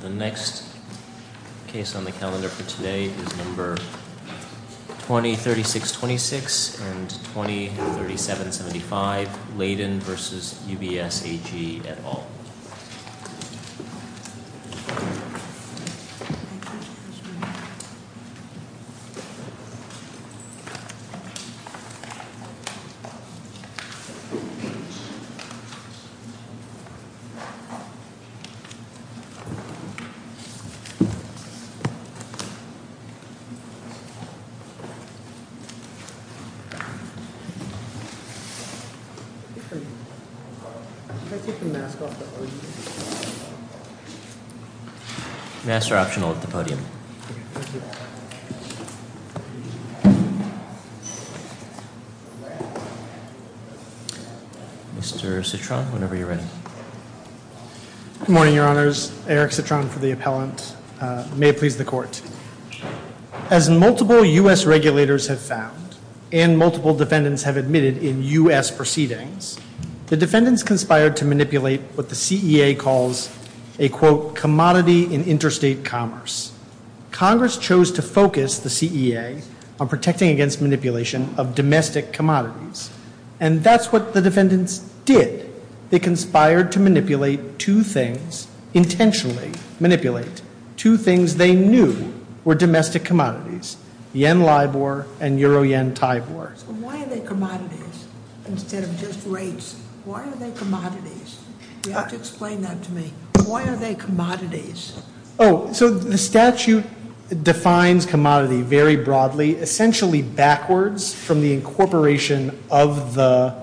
The next case on the calendar for today is number 2036-26 and 2037-75, Laydon v. UBS AG et al. Mr. Citron, whenever you're ready. Good morning, your honors. Eric Citron for the appellant. May it please the court. As multiple U.S. regulators have found and multiple defendants have admitted in U.S. proceedings, the defendants conspired to manipulate what the CEA calls a, quote, commodity in interstate commerce. Congress chose to focus the CEA on protecting against manipulation of domestic commodities, and that's what the defendants did. They conspired to manipulate two things, intentionally manipulate. Two things they knew were domestic commodities, yen LIBOR and euro-yen TIBOR. So why are they commodities instead of just rates? Why are they commodities? You have to explain that to me. Why are they commodities? Oh, so the statute defines commodity very broadly, essentially backwards from the incorporation of the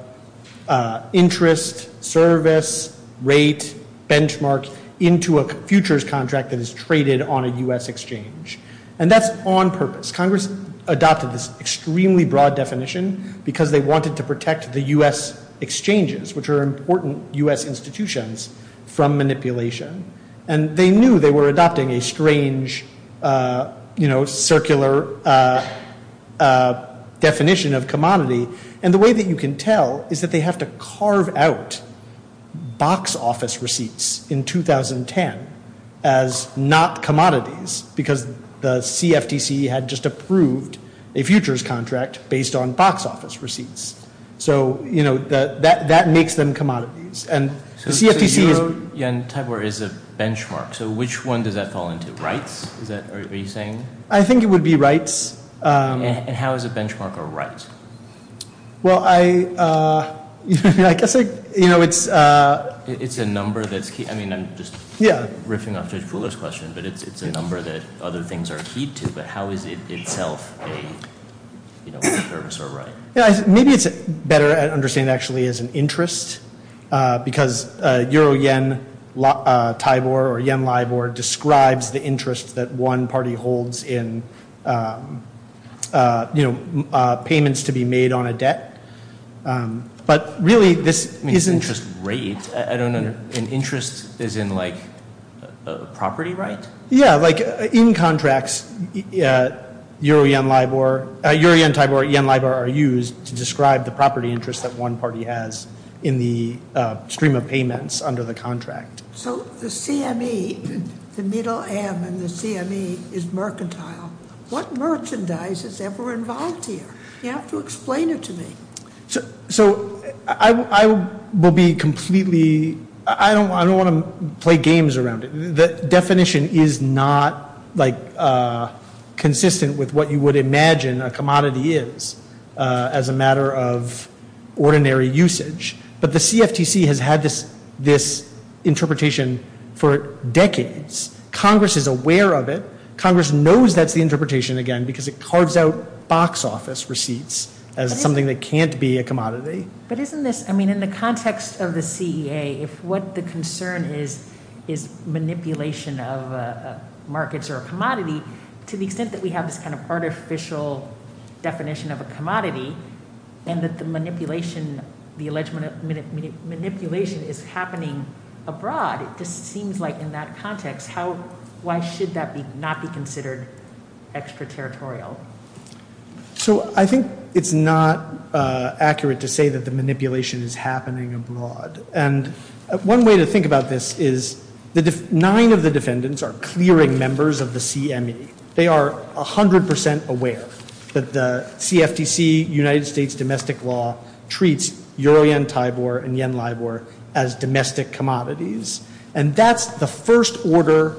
interest, service, rate, benchmark, into a futures contract that is traded on a U.S. exchange. And that's on purpose. Congress adopted this extremely broad definition because they wanted to protect the U.S. exchanges, which are important U.S. institutions, from manipulation. And they knew they were adopting a strange, you know, circular definition of commodity. And the way that you can tell is that they have to carve out box office receipts in 2010 as not commodities because the CFTC had just approved a futures contract based on box office receipts. So, you know, that makes them commodities. And the CFTC is... So euro-yen TIBOR is a benchmark. So which one does that fall into? Rights? Is that what you're saying? I think it would be rights. And how is a benchmark a right? Well, I guess, you know, it's... It's a number that's key. I mean, I'm just riffing off Judge Fuller's question, but it's a number that other things are key to. But how is it itself a service or a right? Maybe it's better to understand actually as an interest because euro-yen TIBOR or yen LIBOR describes the interest that one party holds in, you know, payments to be made on a debt. But really this isn't... I mean, interest rate. I don't know. An interest is in, like, a property right? Yeah, like in contracts, euro-yen LIBOR... euro-yen TIBOR or yen LIBOR are used to describe the property interest that one party has in the stream of payments under the contract. So the CME, the middle M in the CME is mercantile. What merchandise is ever involved here? You have to explain it to me. So I will be completely... I don't want to play games around it. The definition is not, like, consistent with what you would imagine a commodity is as a matter of ordinary usage. But the CFTC has had this interpretation for decades. Congress is aware of it. Congress knows that's the interpretation again because it carves out box office receipts as something that can't be a commodity. But isn't this... I mean, in the context of the CEA, if what the concern is is manipulation of markets or a commodity, to the extent that we have this kind of artificial definition of a commodity and that the manipulation, the alleged manipulation is happening abroad, it just seems like in that context, how... why should that not be considered extraterritorial? So I think it's not accurate to say that the manipulation is happening abroad. And one way to think about this is the nine of the defendants are clearing members of the CME. They are 100% aware that the CFTC, United States domestic law, treats Euro Yen Taibor and Yen Laibor as domestic commodities. And that's the first order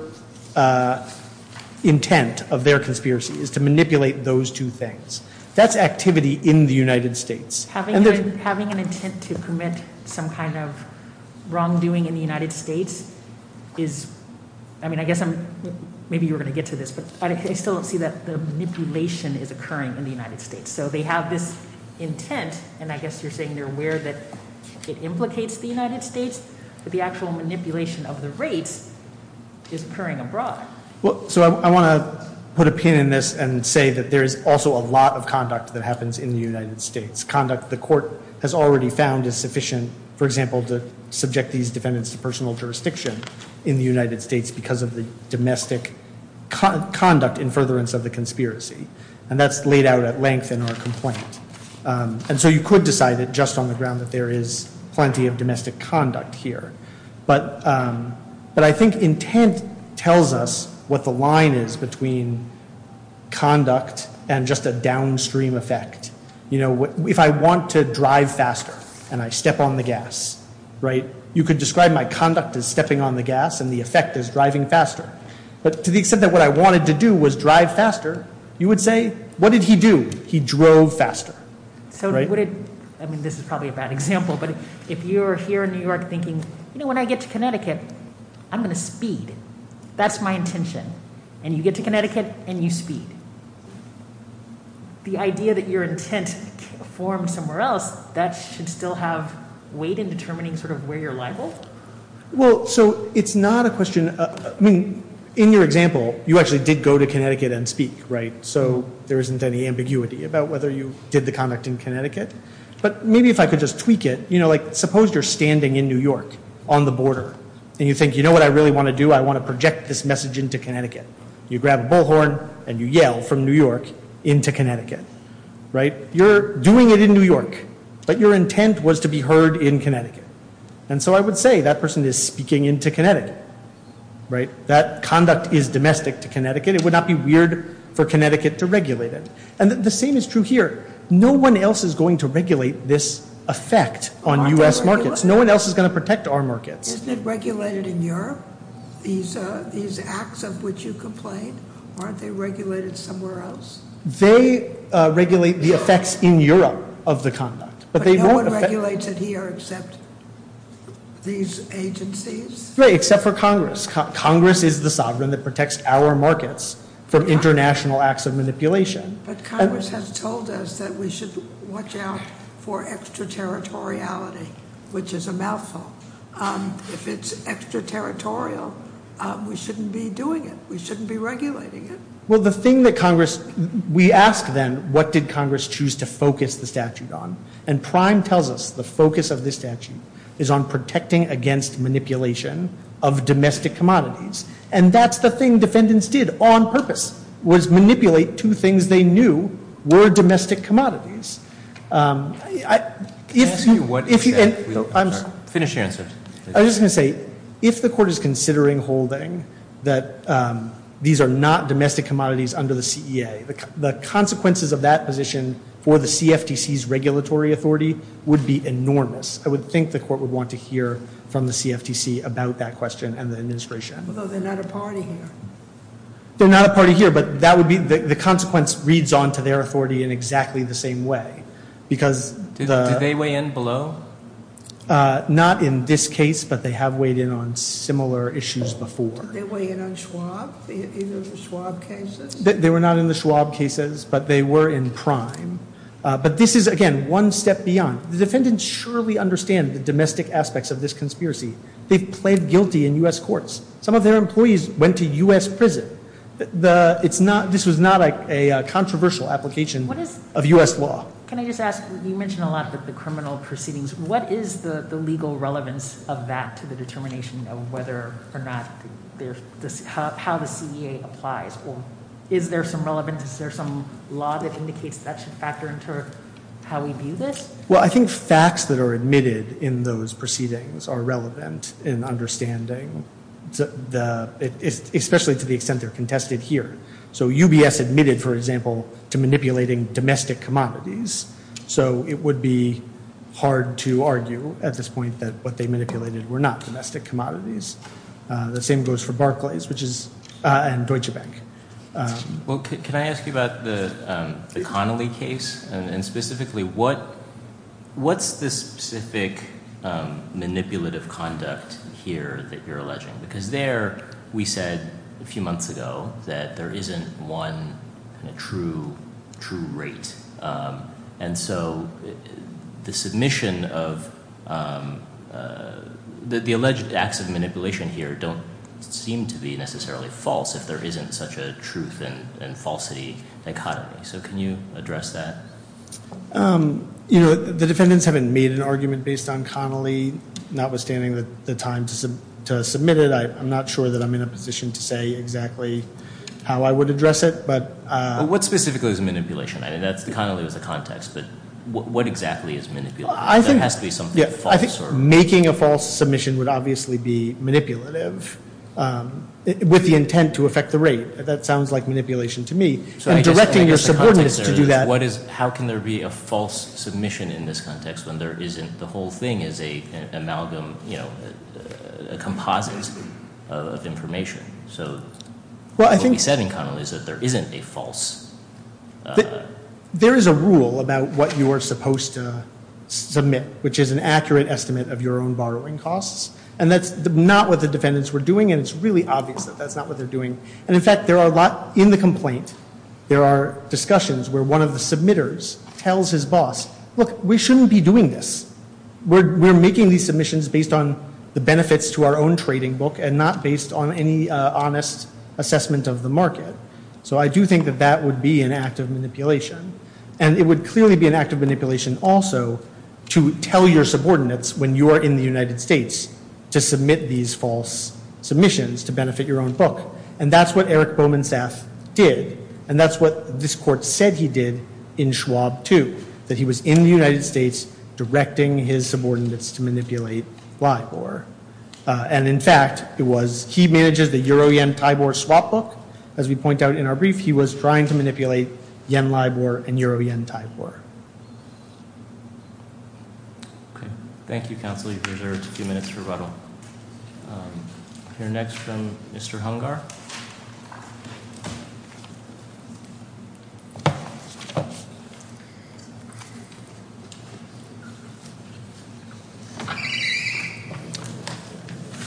intent of their conspiracy is to manipulate those two things. That's activity in the United States. Having an intent to commit some kind of wrongdoing in the United States is... I mean, I guess maybe you were going to get to this, but I still don't see that the manipulation is occurring in the United States. So they have this intent, and I guess you're saying they're aware that it implicates the United States, but the actual manipulation of the rates is occurring abroad. So I want to put a pin in this and say that there is also a lot of conduct that happens in the United States, conduct the court has already found is sufficient, for example, to subject these defendants to personal jurisdiction in the United States because of the domestic conduct in furtherance of the conspiracy. And that's laid out at length in our complaint. And so you could decide it just on the ground that there is plenty of domestic conduct here. But I think intent tells us what the line is between conduct and just a downstream effect. If I want to drive faster and I step on the gas, you could describe my conduct as stepping on the gas and the effect as driving faster. But to the extent that what I wanted to do was drive faster, you would say, what did he do? He drove faster. I mean, this is probably a bad example, but if you're here in New York thinking, you know, when I get to Connecticut, I'm going to speed. That's my intention. And you get to Connecticut and you speed. The idea that your intent formed somewhere else, that should still have weight in determining sort of where you're liable. Well, so it's not a question. I mean, in your example, you actually did go to Connecticut and speak, right? So there isn't any ambiguity about whether you did the conduct in Connecticut. But maybe if I could just tweak it, you know, like suppose you're standing in New York on the border and you think, you know what I really want to do? I want to project this message into Connecticut. You grab a bullhorn and you yell from New York into Connecticut, right? You're doing it in New York, but your intent was to be heard in Connecticut. And so I would say that person is speaking into Connecticut, right? That conduct is domestic to Connecticut. It would not be weird for Connecticut to regulate it. And the same is true here. No one else is going to regulate this effect on U.S. markets. No one else is going to protect our markets. Isn't it regulated in Europe? These acts of which you complain, aren't they regulated somewhere else? They regulate the effects in Europe of the conduct. But no one regulates it here except these agencies? Right, except for Congress. Congress is the sovereign that protects our markets from international acts of manipulation. But Congress has told us that we should watch out for extraterritoriality, which is a mouthful. If it's extraterritorial, we shouldn't be doing it. We shouldn't be regulating it. Well, the thing that Congress, we ask then, what did Congress choose to focus the statute on? And Prime tells us the focus of this statute is on protecting against manipulation of domestic commodities. And that's the thing defendants did on purpose, was manipulate two things they knew were domestic commodities. Can I ask you what is that? Finish your answer. I was just going to say, if the court is considering holding that these are not domestic commodities under the CEA, the consequences of that position for the CFTC's regulatory authority would be enormous. I would think the court would want to hear from the CFTC about that question and the administration. Although they're not a party here. They're not a party here, but that would be the consequence reads on to their authority in exactly the same way. Did they weigh in below? Not in this case, but they have weighed in on similar issues before. Did they weigh in on Schwab, either the Schwab cases? They were not in the Schwab cases, but they were in Prime. But this is, again, one step beyond. The defendants surely understand the domestic aspects of this conspiracy. They've pled guilty in U.S. courts. Some of their employees went to U.S. prison. This was not a controversial application of U.S. law. Can I just ask, you mentioned a lot of the criminal proceedings. What is the legal relevance of that to the determination of whether or not how the CEA applies? Or is there some relevance, is there some law that indicates that should factor into how we view this? Well, I think facts that are admitted in those proceedings are relevant in understanding, especially to the extent they're contested here. So UBS admitted, for example, to manipulating domestic commodities. So it would be hard to argue at this point that what they manipulated were not domestic commodities. The same goes for Barclays and Deutsche Bank. Well, can I ask you about the Connolly case? And specifically, what's the specific manipulative conduct here that you're alleging? Because there we said a few months ago that there isn't one true rate. And so the submission of the alleged acts of manipulation here don't seem to be necessarily false if there isn't such a truth and falsity dichotomy. So can you address that? You know, the defendants haven't made an argument based on Connolly, notwithstanding the time to submit it. I'm not sure that I'm in a position to say exactly how I would address it. But what specifically is manipulation? I mean, Connolly was a context, but what exactly is manipulation? That has to be something false. I think making a false submission would obviously be manipulative with the intent to affect the rate. That sounds like manipulation to me. And directing your subordinates to do that. How can there be a false submission in this context when there isn't? The whole thing is an amalgam, you know, a composite of information. So what we said in Connolly is that there isn't a false. There is a rule about what you are supposed to submit, which is an accurate estimate of your own borrowing costs. And that's not what the defendants were doing, and it's really obvious that that's not what they're doing. And, in fact, there are a lot in the complaint. There are discussions where one of the submitters tells his boss, look, we shouldn't be doing this. We're making these submissions based on the benefits to our own trading book and not based on any honest assessment of the market. So I do think that that would be an act of manipulation. And it would clearly be an act of manipulation also to tell your subordinates when you are in the United States to submit these false submissions to benefit your own book. And that's what Eric Bowman Sass did. And that's what this court said he did in Schwab, too, that he was in the United States directing his subordinates to manipulate LIBOR. And, in fact, it was he manages the Euro-Yen-Thai-Bor swap book. As we point out in our brief, he was trying to manipulate Yen-Libor and Euro-Yen-Thai-Bor. Thank you, counsel. You've reserved a few minutes for rebuttal. We'll hear next from Mr. Hungar.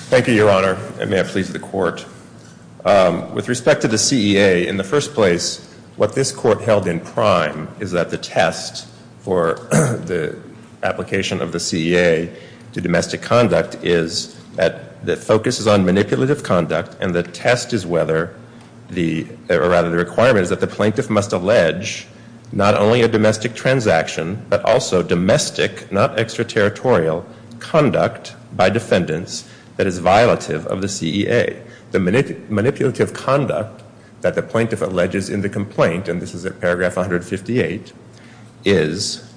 Thank you, Your Honor. It may have pleased the court. With respect to the CEA, in the first place, what this court held in prime is that the test for the application of the CEA to domestic conduct is that the focus is on manipulative conduct and the test is whether the – or, rather, the requirement is that the plaintiff must allege not only a domestic transaction, but also domestic, not extraterritorial, conduct by defendants that is violative of the CEA. The manipulative conduct that the plaintiff alleges in the complaint – and this is at paragraph 158 – is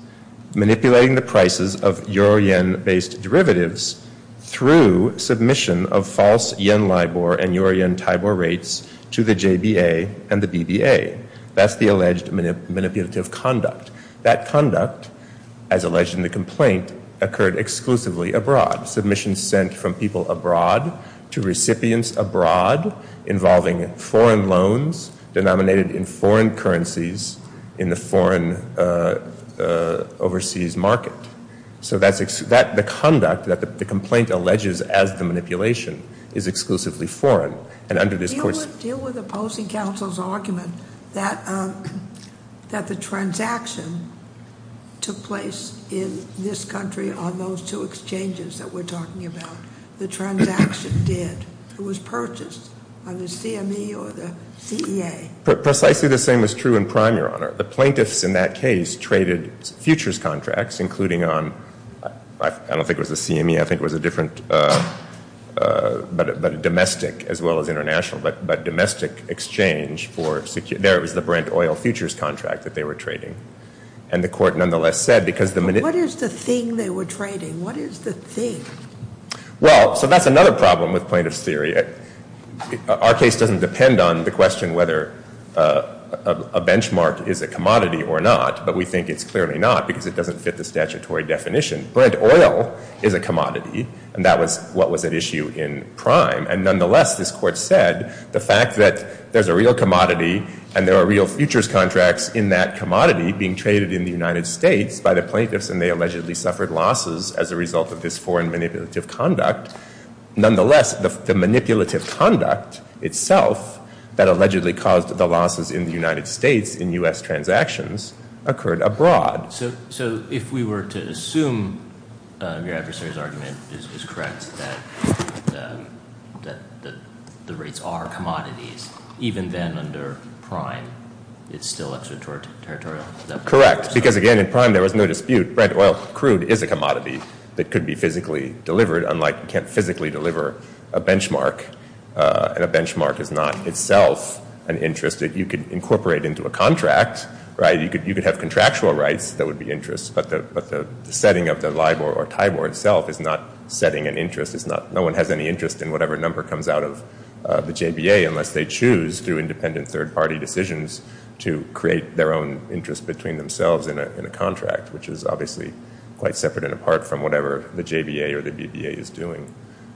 manipulating the prices of Euro-Yen-based derivatives through submission of false Yen-Libor and Euro-Yen-Thai-Bor rates to the JBA and the BBA. That's the alleged manipulative conduct. That conduct, as alleged in the complaint, occurred exclusively abroad. Stop submissions sent from people abroad to recipients abroad involving foreign loans denominated in foreign currencies in the foreign overseas market. So that's – the conduct that the complaint alleges as the manipulation is exclusively foreign. Deal with opposing counsel's argument that the transaction took place in this country on those two exchanges that we're talking about. The transaction did. It was purchased by the CME or the CEA. Precisely the same is true in prime, Your Honor. The plaintiffs in that case traded futures contracts, including on – I don't think it was the CME. I think it was a different – but domestic as well as international, but domestic exchange for – there it was the Brent Oil futures contract that they were trading. And the court nonetheless said because the – What is the thing they were trading? What is the thing? Well, so that's another problem with plaintiff's theory. Our case doesn't depend on the question whether a benchmark is a commodity or not, but we think it's clearly not because it doesn't fit the statutory definition. Brent Oil is a commodity, and that was what was at issue in prime. And nonetheless, this court said the fact that there's a real commodity and there are real futures contracts in that commodity being traded in the United States by the plaintiffs and they allegedly suffered losses as a result of this foreign manipulative conduct. Nonetheless, the manipulative conduct itself that allegedly caused the losses in the United States in U.S. transactions occurred abroad. So if we were to assume your adversary's argument is correct that the rates are commodities, even then under prime it's still extraterritorial? Correct, because, again, in prime there was no dispute. Brent Oil crude is a commodity that could be physically delivered, unlike you can't physically deliver a benchmark. And a benchmark is not itself an interest that you could incorporate into a contract, right? That would be interest. But the setting of the LIBOR or TIBOR itself is not setting an interest. No one has any interest in whatever number comes out of the JBA unless they choose, through independent third-party decisions, to create their own interest between themselves and a contract, which is obviously quite separate and apart from whatever the JBA or the BBA is doing.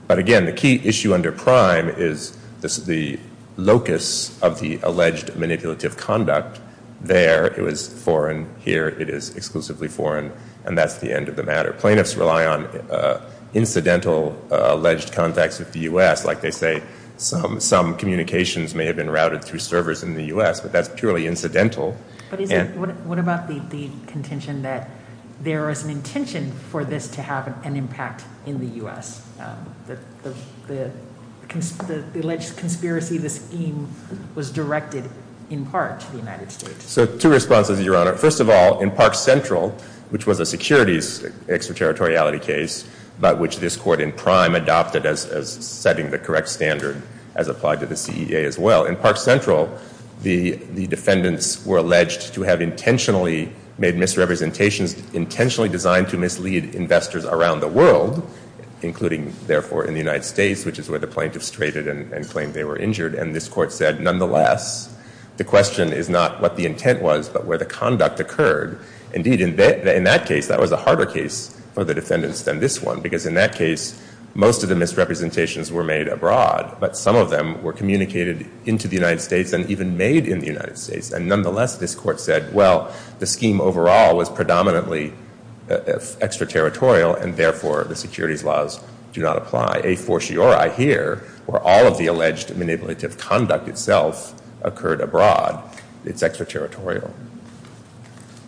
But, again, the key issue under prime is the locus of the alleged manipulative conduct. There it was foreign, here it is exclusively foreign, and that's the end of the matter. Plaintiffs rely on incidental alleged contacts with the U.S. Like they say, some communications may have been routed through servers in the U.S., but that's purely incidental. But what about the contention that there is an intention for this to have an impact in the U.S.? The alleged conspiracy of this scheme was directed in part to the United States. So two responses, Your Honor. First of all, in Park Central, which was a securities extraterritoriality case, but which this court in prime adopted as setting the correct standard as applied to the CEA as well. In Park Central, the defendants were alleged to have intentionally made misrepresentations, at least intentionally designed to mislead investors around the world, including, therefore, in the United States, which is where the plaintiffs traded and claimed they were injured. And this court said, nonetheless, the question is not what the intent was, but where the conduct occurred. Indeed, in that case, that was a harder case for the defendants than this one, because in that case, most of the misrepresentations were made abroad, but some of them were communicated into the United States and even made in the United States. And, nonetheless, this court said, well, the scheme overall was predominantly extraterritorial and, therefore, the securities laws do not apply. A fortiori here, where all of the alleged manipulative conduct itself occurred abroad, it's extraterritorial.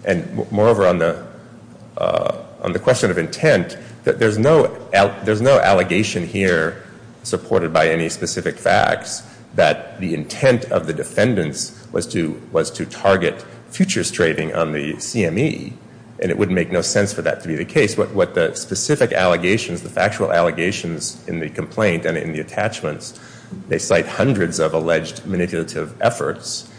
And, moreover, on the question of intent, there's no allegation here supported by any specific facts that the intent of the defendants was to target futures trading on the CME. And it would make no sense for that to be the case. What the specific allegations, the factual allegations in the complaint and in the attachments, they cite hundreds of alleged manipulative efforts.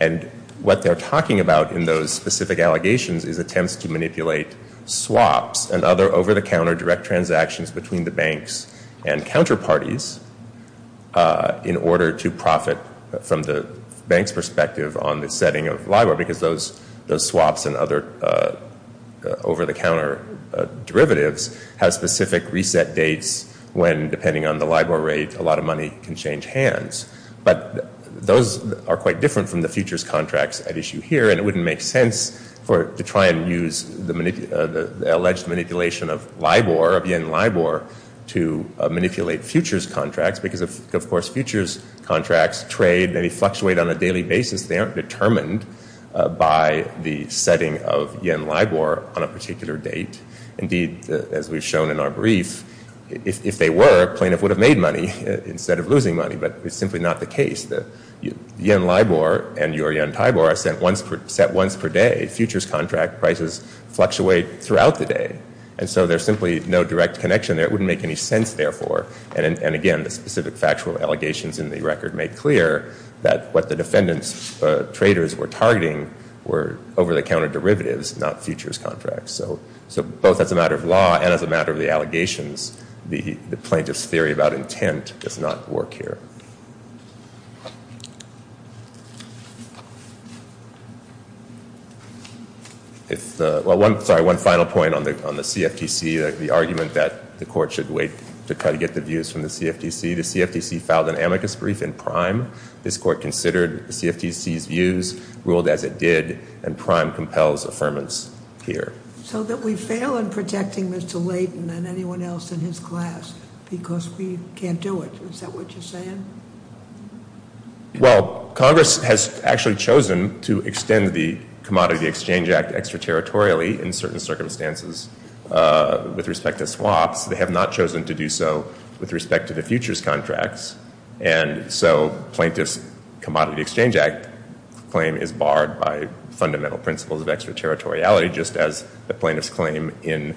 And what they're talking about in those specific allegations is attempts to manipulate swaps and other over-the-counter direct transactions between the banks and counterparties in order to profit from the bank's perspective on the setting of LIBOR, because those swaps and other over-the-counter derivatives have specific reset dates when, depending on the LIBOR rate, a lot of money can change hands. But those are quite different from the futures contracts at issue here, and it wouldn't make sense to try and use the alleged manipulation of LIBOR, of yen LIBOR, to manipulate futures contracts, because, of course, futures contracts trade and fluctuate on a daily basis. They aren't determined by the setting of yen LIBOR on a particular date. Indeed, as we've shown in our brief, if they were, a plaintiff would have made money instead of losing money. But it's simply not the case. The yen LIBOR and your yen TAIBOR are set once per day. Futures contract prices fluctuate throughout the day, and so there's simply no direct connection there. It wouldn't make any sense, therefore. And, again, the specific factual allegations in the record make clear that what the defendant's traders were targeting were over-the-counter derivatives, not futures contracts. So both as a matter of law and as a matter of the allegations, the plaintiff's theory about intent does not work here. Sorry, one final point on the CFTC, the argument that the court should wait to try to get the views from the CFTC. The CFTC filed an amicus brief in prime. This court considered the CFTC's views, ruled as it did, and prime compels affirmance here. So that we fail in protecting Mr. Layton and anyone else in his class because we can't do it. Is that what you're saying? Well, Congress has actually chosen to extend the Commodity Exchange Act extraterritorially in certain circumstances with respect to swaps. They have not chosen to do so with respect to the futures contracts. And so plaintiff's Commodity Exchange Act claim is barred by fundamental principles of extraterritoriality, just as the plaintiff's claim in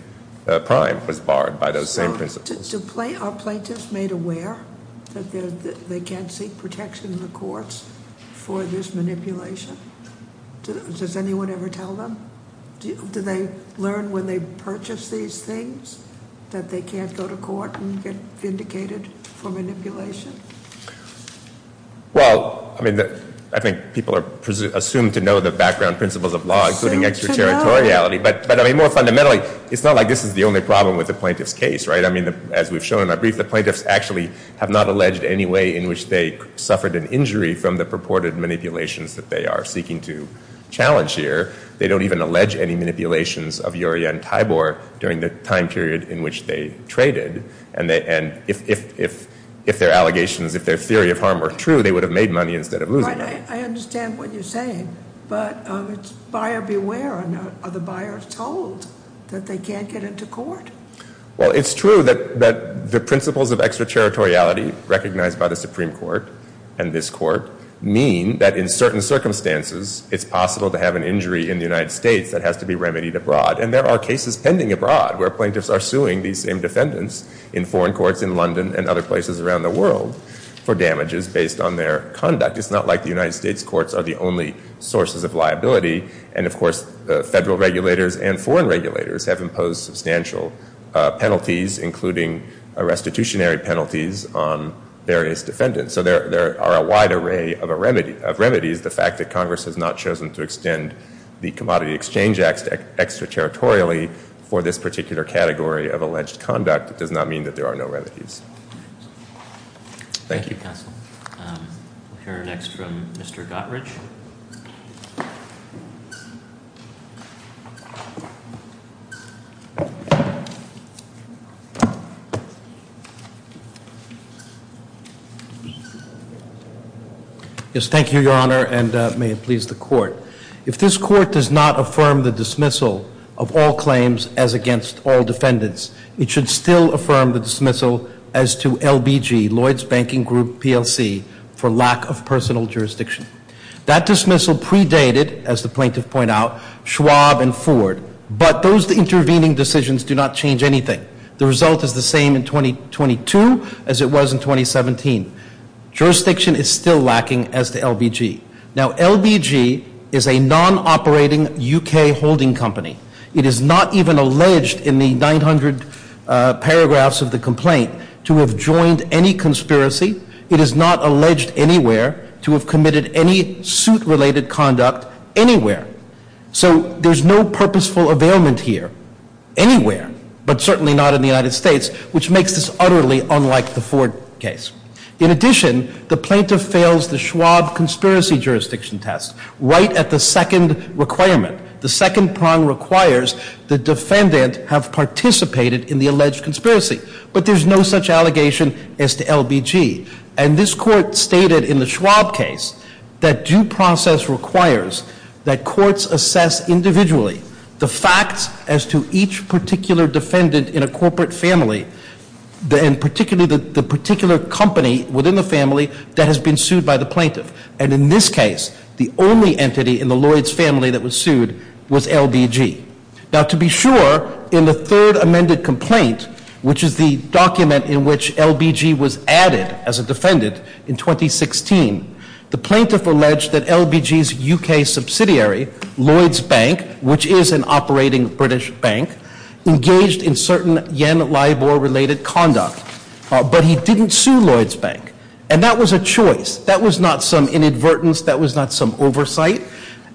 prime was barred by those same principles. Are plaintiffs made aware that they can't seek protection in the courts for this manipulation? Does anyone ever tell them? Do they learn when they purchase these things that they can't go to court and get vindicated for manipulation? Well, I mean, I think people are assumed to know the background principles of law, including extraterritoriality. But I mean, more fundamentally, it's not like this is the only problem with the plaintiff's case, right? I mean, as we've shown in our brief, the plaintiffs actually have not alleged any way in which they suffered an injury from the purported manipulations that they are seeking to challenge here. They don't even allege any manipulations of Uriah and Tibor during the time period in which they traded. And if their allegations, if their theory of harm were true, they would have made money instead of losing. Right. I understand what you're saying. But it's buyer beware. Are the buyers told that they can't get into court? Well, it's true that the principles of extraterritoriality recognized by the Supreme Court and this court mean that in certain circumstances it's possible to have an injury in the United States that has to be remedied abroad. And there are cases pending abroad where plaintiffs are suing these same defendants in foreign courts in London and other places around the world for damages based on their conduct. It's not like the United States courts are the only sources of liability. And, of course, federal regulators and foreign regulators have imposed substantial penalties, including restitutionary penalties on various defendants. So there are a wide array of remedies. The fact that Congress has not chosen to extend the Commodity Exchange Act extraterritorially for this particular category of alleged conduct does not mean that there are no remedies. Thank you. Thank you, counsel. We'll hear next from Mr. Gottrich. Yes, thank you, Your Honor, and may it please the court. If this court does not affirm the dismissal of all claims as against all defendants, it should still affirm the dismissal as to LBG, Lloyds Banking Group, PLC, for lack of personal jurisdiction. That dismissal predated, as the plaintiff pointed out, Schwab and Ford. But those intervening decisions do not change anything. The result is the same in 2022 as it was in 2017. Jurisdiction is still lacking as to LBG. Now, LBG is a non-operating U.K. holding company. It is not even alleged in the 900 paragraphs of the complaint to have joined any conspiracy. It is not alleged anywhere to have committed any suit-related conduct anywhere. So there's no purposeful availment here anywhere, but certainly not in the United States, which makes this utterly unlike the Ford case. In addition, the plaintiff fails the Schwab conspiracy jurisdiction test right at the second requirement, the second prong requires the defendant have participated in the alleged conspiracy. But there's no such allegation as to LBG. And this court stated in the Schwab case that due process requires that courts assess individually the facts as to each particular defendant in a corporate family, and particularly the particular company within the family that has been sued by the plaintiff. And in this case, the only entity in the Lloyds family that was sued was LBG. Now, to be sure, in the third amended complaint, which is the document in which LBG was added as a defendant in 2016, the plaintiff alleged that LBG's U.K. subsidiary, Lloyds Bank, which is an operating British bank, engaged in certain Yen-Libor-related conduct, but he didn't sue Lloyds Bank. And that was a choice. That was not some inadvertence. That was not some oversight.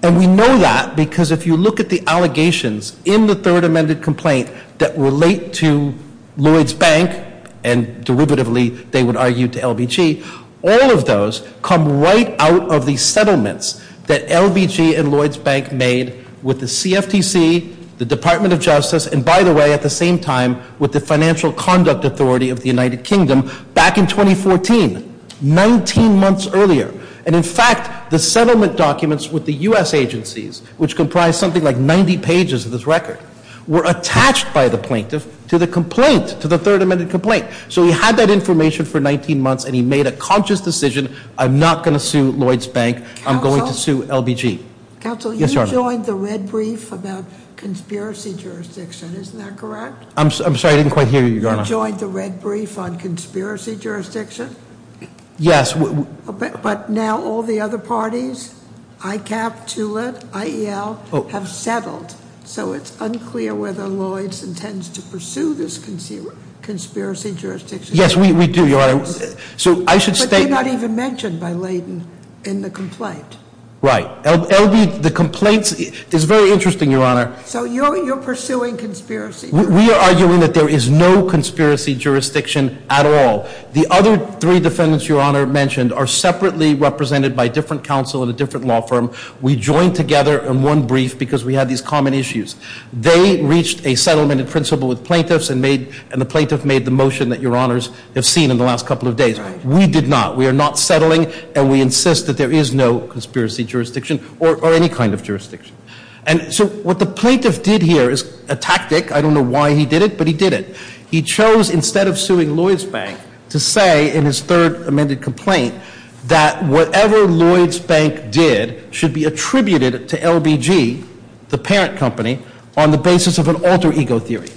And we know that because if you look at the allegations in the third amended complaint that relate to Lloyds Bank, and derivatively they would argue to LBG, all of those come right out of the settlements that LBG and Lloyds Bank made with the CFTC, the Department of Justice, and by the way, at the same time, with the Financial Conduct Authority of the United Kingdom back in 2014, 19 months earlier. And in fact, the settlement documents with the U.S. agencies, which comprise something like 90 pages of this record, were attached by the plaintiff to the complaint, to the third amended complaint. So he had that information for 19 months, and he made a conscious decision, I'm not going to sue Lloyds Bank. I'm going to sue LBG. Counsel, you joined the red brief about conspiracy jurisdiction. Isn't that correct? I'm sorry, I didn't quite hear you, Your Honor. You joined the red brief on conspiracy jurisdiction? Yes. But now all the other parties, ICAP, TULIP, IEL, have settled. So it's unclear whether Lloyds intends to pursue this conspiracy jurisdiction. Yes, we do, Your Honor. But they're not even mentioned by Layden in the complaint. Right. The complaints, it's very interesting, Your Honor. So you're pursuing conspiracy. We are arguing that there is no conspiracy jurisdiction at all. The other three defendants Your Honor mentioned are separately represented by different counsel in a different law firm. We joined together in one brief because we had these common issues. They reached a settlement in principle with plaintiffs, and the plaintiff made the motion that Your Honors have seen in the last couple of days. We did not. We are not settling, and we insist that there is no conspiracy jurisdiction or any kind of jurisdiction. And so what the plaintiff did here is a tactic. I don't know why he did it, but he did it. He chose instead of suing Lloyds Bank to say in his third amended complaint that whatever Lloyds Bank did should be attributed to LBG, the parent company, on the basis of an alter ego theory.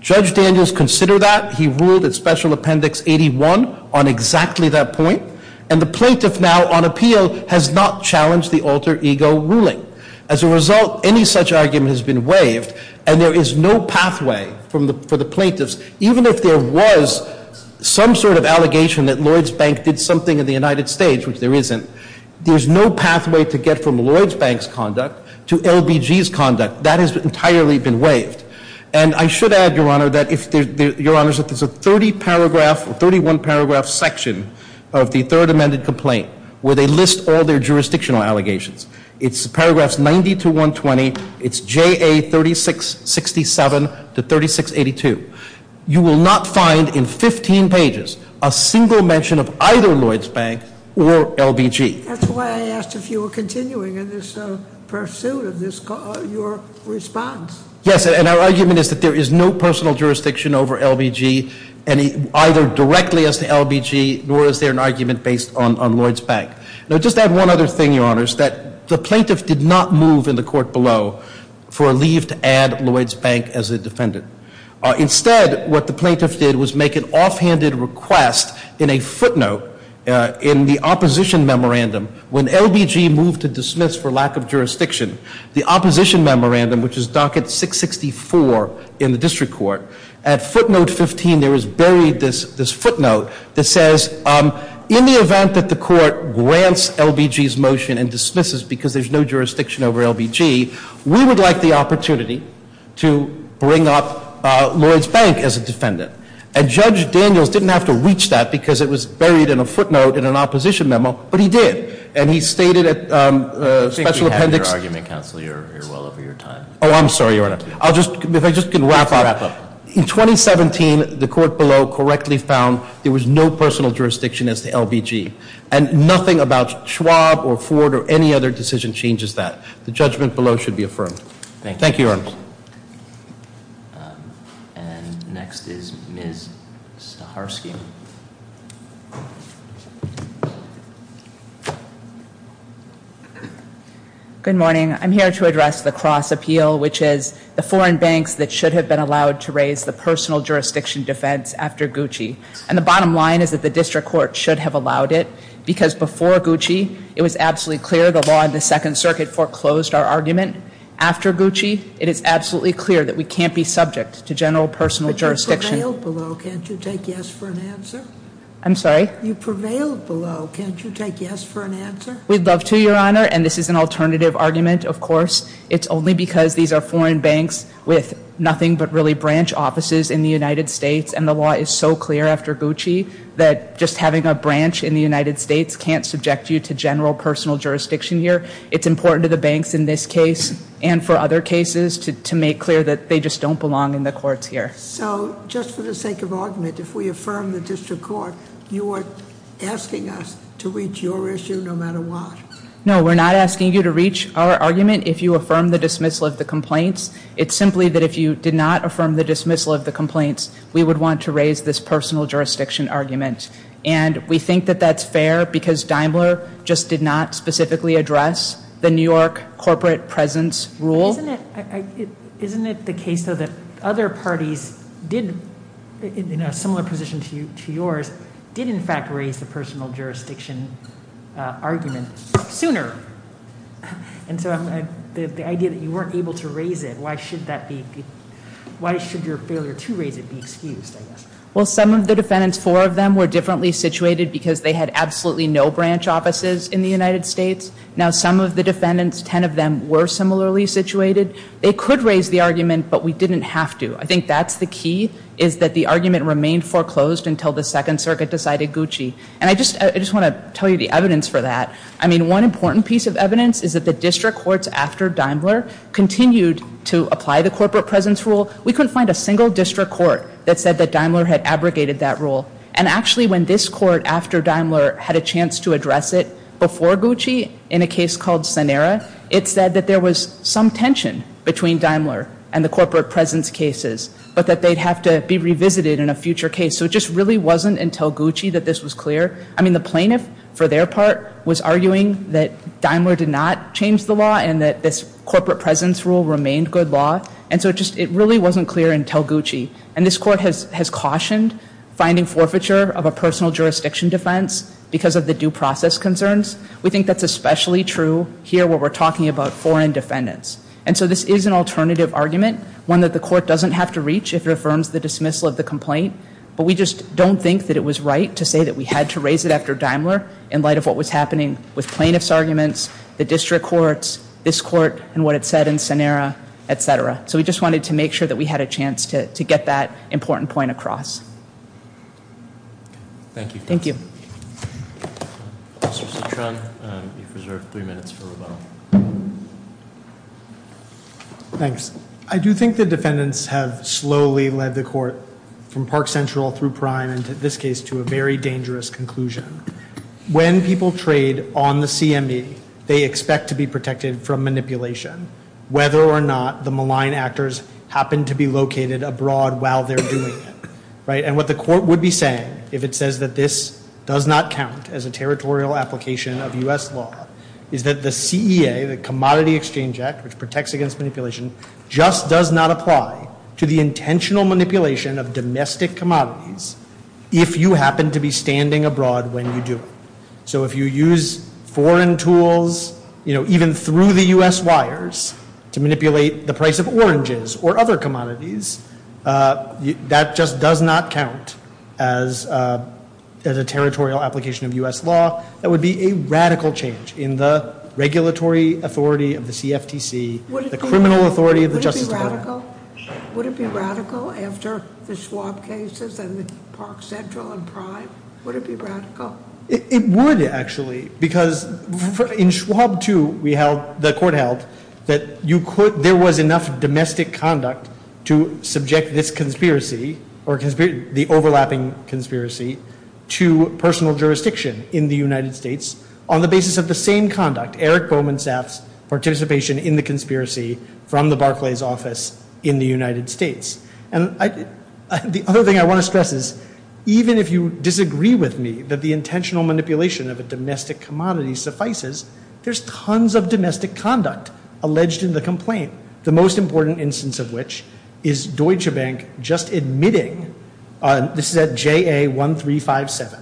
Judge Daniels considered that. He ruled at Special Appendix 81 on exactly that point. And the plaintiff now on appeal has not challenged the alter ego ruling. As a result, any such argument has been waived, and there is no pathway for the plaintiffs, even if there was some sort of allegation that Lloyds Bank did something in the United States, which there isn't, there's no pathway to get from Lloyds Bank's conduct to LBG's conduct. That has entirely been waived. And I should add, Your Honor, that if there's a 30-paragraph or 31-paragraph section of the third amended complaint where they list all their jurisdictional allegations, it's paragraphs 90 to 120, it's JA 3667 to 3682. You will not find in 15 pages a single mention of either Lloyds Bank or LBG. That's why I asked if you were continuing in this pursuit of your response. Yes, and our argument is that there is no personal jurisdiction over LBG, either directly as to LBG, nor is there an argument based on Lloyds Bank. Now, just add one other thing, Your Honors, that the plaintiff did not move in the court below for a leave to add Lloyds Bank as a defendant. Instead, what the plaintiff did was make an offhanded request in a footnote in the opposition memorandum. When LBG moved to dismiss for lack of jurisdiction, the opposition memorandum, which is docket 664 in the district court, at footnote 15, there is buried this footnote that says, in the event that the court grants LBG's motion and dismisses because there's no jurisdiction over LBG, we would like the opportunity to bring up Lloyds Bank as a defendant. And Judge Daniels didn't have to reach that because it was buried in a footnote in an opposition memo, but he did. And he stated at special appendix — I think we have your argument, counsel. You're well over your time. Oh, I'm sorry, Your Honor. If I just can wrap up. Just wrap up. In 2017, the court below correctly found there was no personal jurisdiction as to LBG. And nothing about Schwab or Ford or any other decision changes that. The judgment below should be affirmed. Thank you, Your Honors. And next is Ms. Saharsky. Good morning. I'm here to address the cross appeal, which is the foreign banks that should have been allowed to raise the personal jurisdiction defense after Gucci. And the bottom line is that the district court should have allowed it. Because before Gucci, it was absolutely clear the law in the Second Circuit foreclosed our argument. After Gucci, it is absolutely clear that we can't be subject to general personal jurisdiction. You prevailed below. Can't you take yes for an answer? I'm sorry? You prevailed below. Can't you take yes for an answer? We'd love to, Your Honor. And this is an alternative argument, of course. It's only because these are foreign banks with nothing but really branch offices in the United States. And the law is so clear after Gucci that just having a branch in the United States can't subject you to general personal jurisdiction here. It's important to the banks in this case and for other cases to make clear that they just don't belong in the courts here. So just for the sake of argument, if we affirm the district court, you are asking us to reach your issue no matter what? No, we're not asking you to reach our argument if you affirm the dismissal of the complaints. It's simply that if you did not affirm the dismissal of the complaints, we would want to raise this personal jurisdiction argument. And we think that that's fair because Daimler just did not specifically address the New York corporate presence rule. Isn't it the case, though, that other parties did, in a similar position to yours, did in fact raise the personal jurisdiction argument sooner? And so the idea that you weren't able to raise it, why should your failure to raise it be excused, I guess? Well, some of the defendants, four of them, were differently situated because they had absolutely no branch offices in the United States. Now, some of the defendants, ten of them, were similarly situated. They could raise the argument, but we didn't have to. I think that's the key, is that the argument remained foreclosed until the Second Circuit decided Gucci. And I just want to tell you the evidence for that. I mean, one important piece of evidence is that the district courts after Daimler continued to apply the corporate presence rule. We couldn't find a single district court that said that Daimler had abrogated that rule. And actually, when this court, after Daimler, had a chance to address it, before Gucci, in a case called Sanera, it said that there was some tension between Daimler and the corporate presence cases, but that they'd have to be revisited in a future case. So it just really wasn't until Gucci that this was clear. I mean, the plaintiff, for their part, was arguing that Daimler did not change the law and that this corporate presence rule remained good law. And so it just really wasn't clear until Gucci. And this court has cautioned finding forfeiture of a personal jurisdiction defense because of the due process concerns. We think that's especially true here where we're talking about foreign defendants. And so this is an alternative argument, one that the court doesn't have to reach if it affirms the dismissal of the complaint. But we just don't think that it was right to say that we had to raise it after Daimler, in light of what was happening with plaintiff's arguments, the district courts, this court, and what it said in Sanera, etc. So we just wanted to make sure that we had a chance to get that important point across. Thank you. Thank you. Mr. Citron, you've reserved three minutes for rebuttal. Thanks. I do think the defendants have slowly led the court from Park Central through Prime and, in this case, to a very dangerous conclusion. When people trade on the CME, they expect to be protected from manipulation, whether or not the malign actors happen to be located abroad while they're doing it. And what the court would be saying if it says that this does not count as a territorial application of U.S. law is that the CEA, the Commodity Exchange Act, which protects against manipulation, just does not apply to the intentional manipulation of domestic commodities if you happen to be standing abroad when you do it. So if you use foreign tools, even through the U.S. wires, to manipulate the price of oranges or other commodities, that just does not count as a territorial application of U.S. law. That would be a radical change in the regulatory authority of the CFTC, the criminal authority of the Justice Department. Would it be radical? Would it be radical after the Schwab cases and the Park Central and Prime? Would it be radical? It would, actually, because in Schwab 2, we held, the court held, that you could, there was enough domestic conduct to subject this conspiracy, or the overlapping conspiracy, to personal jurisdiction in the United States on the basis of the same conduct, Eric Bowman Saff's participation in the conspiracy from the Barclays office in the United States. And the other thing I want to stress is even if you disagree with me that the intentional manipulation of a domestic commodity suffices, there's tons of domestic conduct alleged in the complaint. The most important instance of which is Deutsche Bank just admitting, this is at JA1357,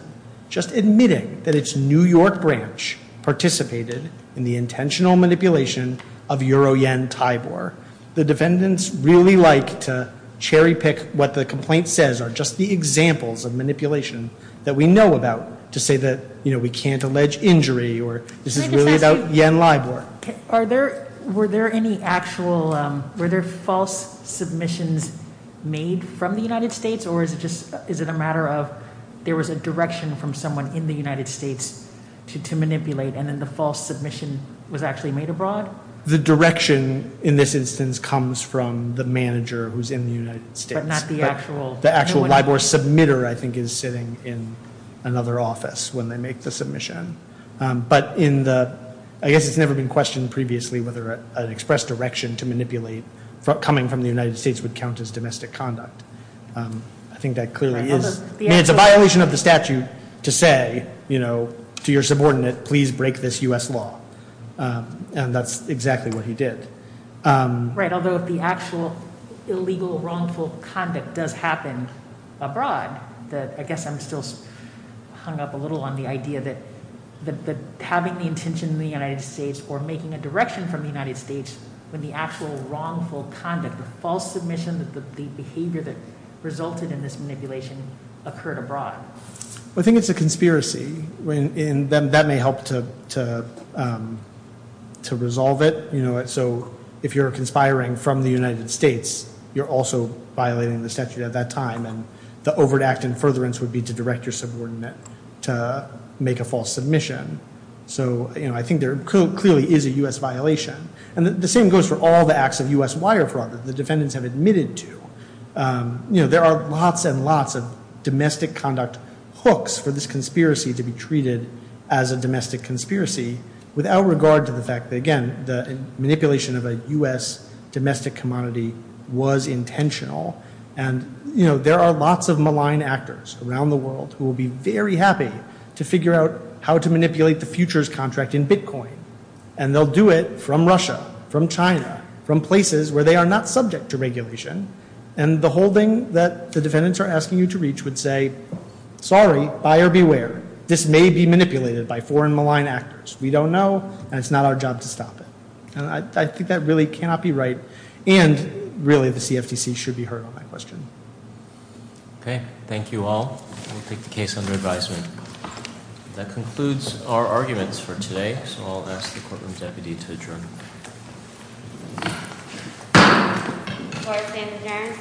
just admitting that its New York branch participated in the intentional manipulation of Euro Yen Tybor. The defendants really like to cherry pick what the complaint says are just the examples of manipulation that we know about to say that, you know, we can't allege injury or this is really about Yen Lybor. Were there any actual, were there false submissions made from the United States, or is it just a matter of there was a direction from someone in the United States to manipulate and then the false submission was actually made abroad? The direction in this instance comes from the manager who's in the United States. But not the actual Yen Lybor? The actual Yen Lybor submitter, I think, is sitting in another office when they make the submission. But in the, I guess it's never been questioned previously whether an express direction to manipulate coming from the United States would count as domestic conduct. I think that clearly is, I mean, it's a violation of the statute to say, you know, to your subordinate, please break this U.S. law. And that's exactly what he did. Right, although if the actual illegal, wrongful conduct does happen abroad, I guess I'm still hung up a little on the idea that having the intention in the United States or making a direction from the United States when the actual wrongful conduct, the false submission, the behavior that resulted in this manipulation occurred abroad. I think it's a conspiracy, and that may help to resolve it. So if you're conspiring from the United States, you're also violating the statute at that time. And the overt act in furtherance would be to direct your subordinate to make a false submission. So, you know, I think there clearly is a U.S. violation. And the same goes for all the acts of U.S. wire fraud that the defendants have admitted to. You know, there are lots and lots of domestic conduct hooks for this conspiracy to be treated as a domestic conspiracy, without regard to the fact that, again, the manipulation of a U.S. domestic commodity was intentional. And, you know, there are lots of malign actors around the world who will be very happy to figure out how to manipulate the futures contract in Bitcoin. And they'll do it from Russia, from China, from places where they are not subject to regulation. And the holding that the defendants are asking you to reach would say, sorry, buyer beware, this may be manipulated by foreign malign actors. We don't know, and it's not our job to stop it. And I think that really cannot be right. And, really, the CFTC should be heard on that question. Okay. Thank you all. We'll take the case under advisement. That concludes our arguments for today. So I'll ask the courtroom deputy to adjourn. Court is adjourned.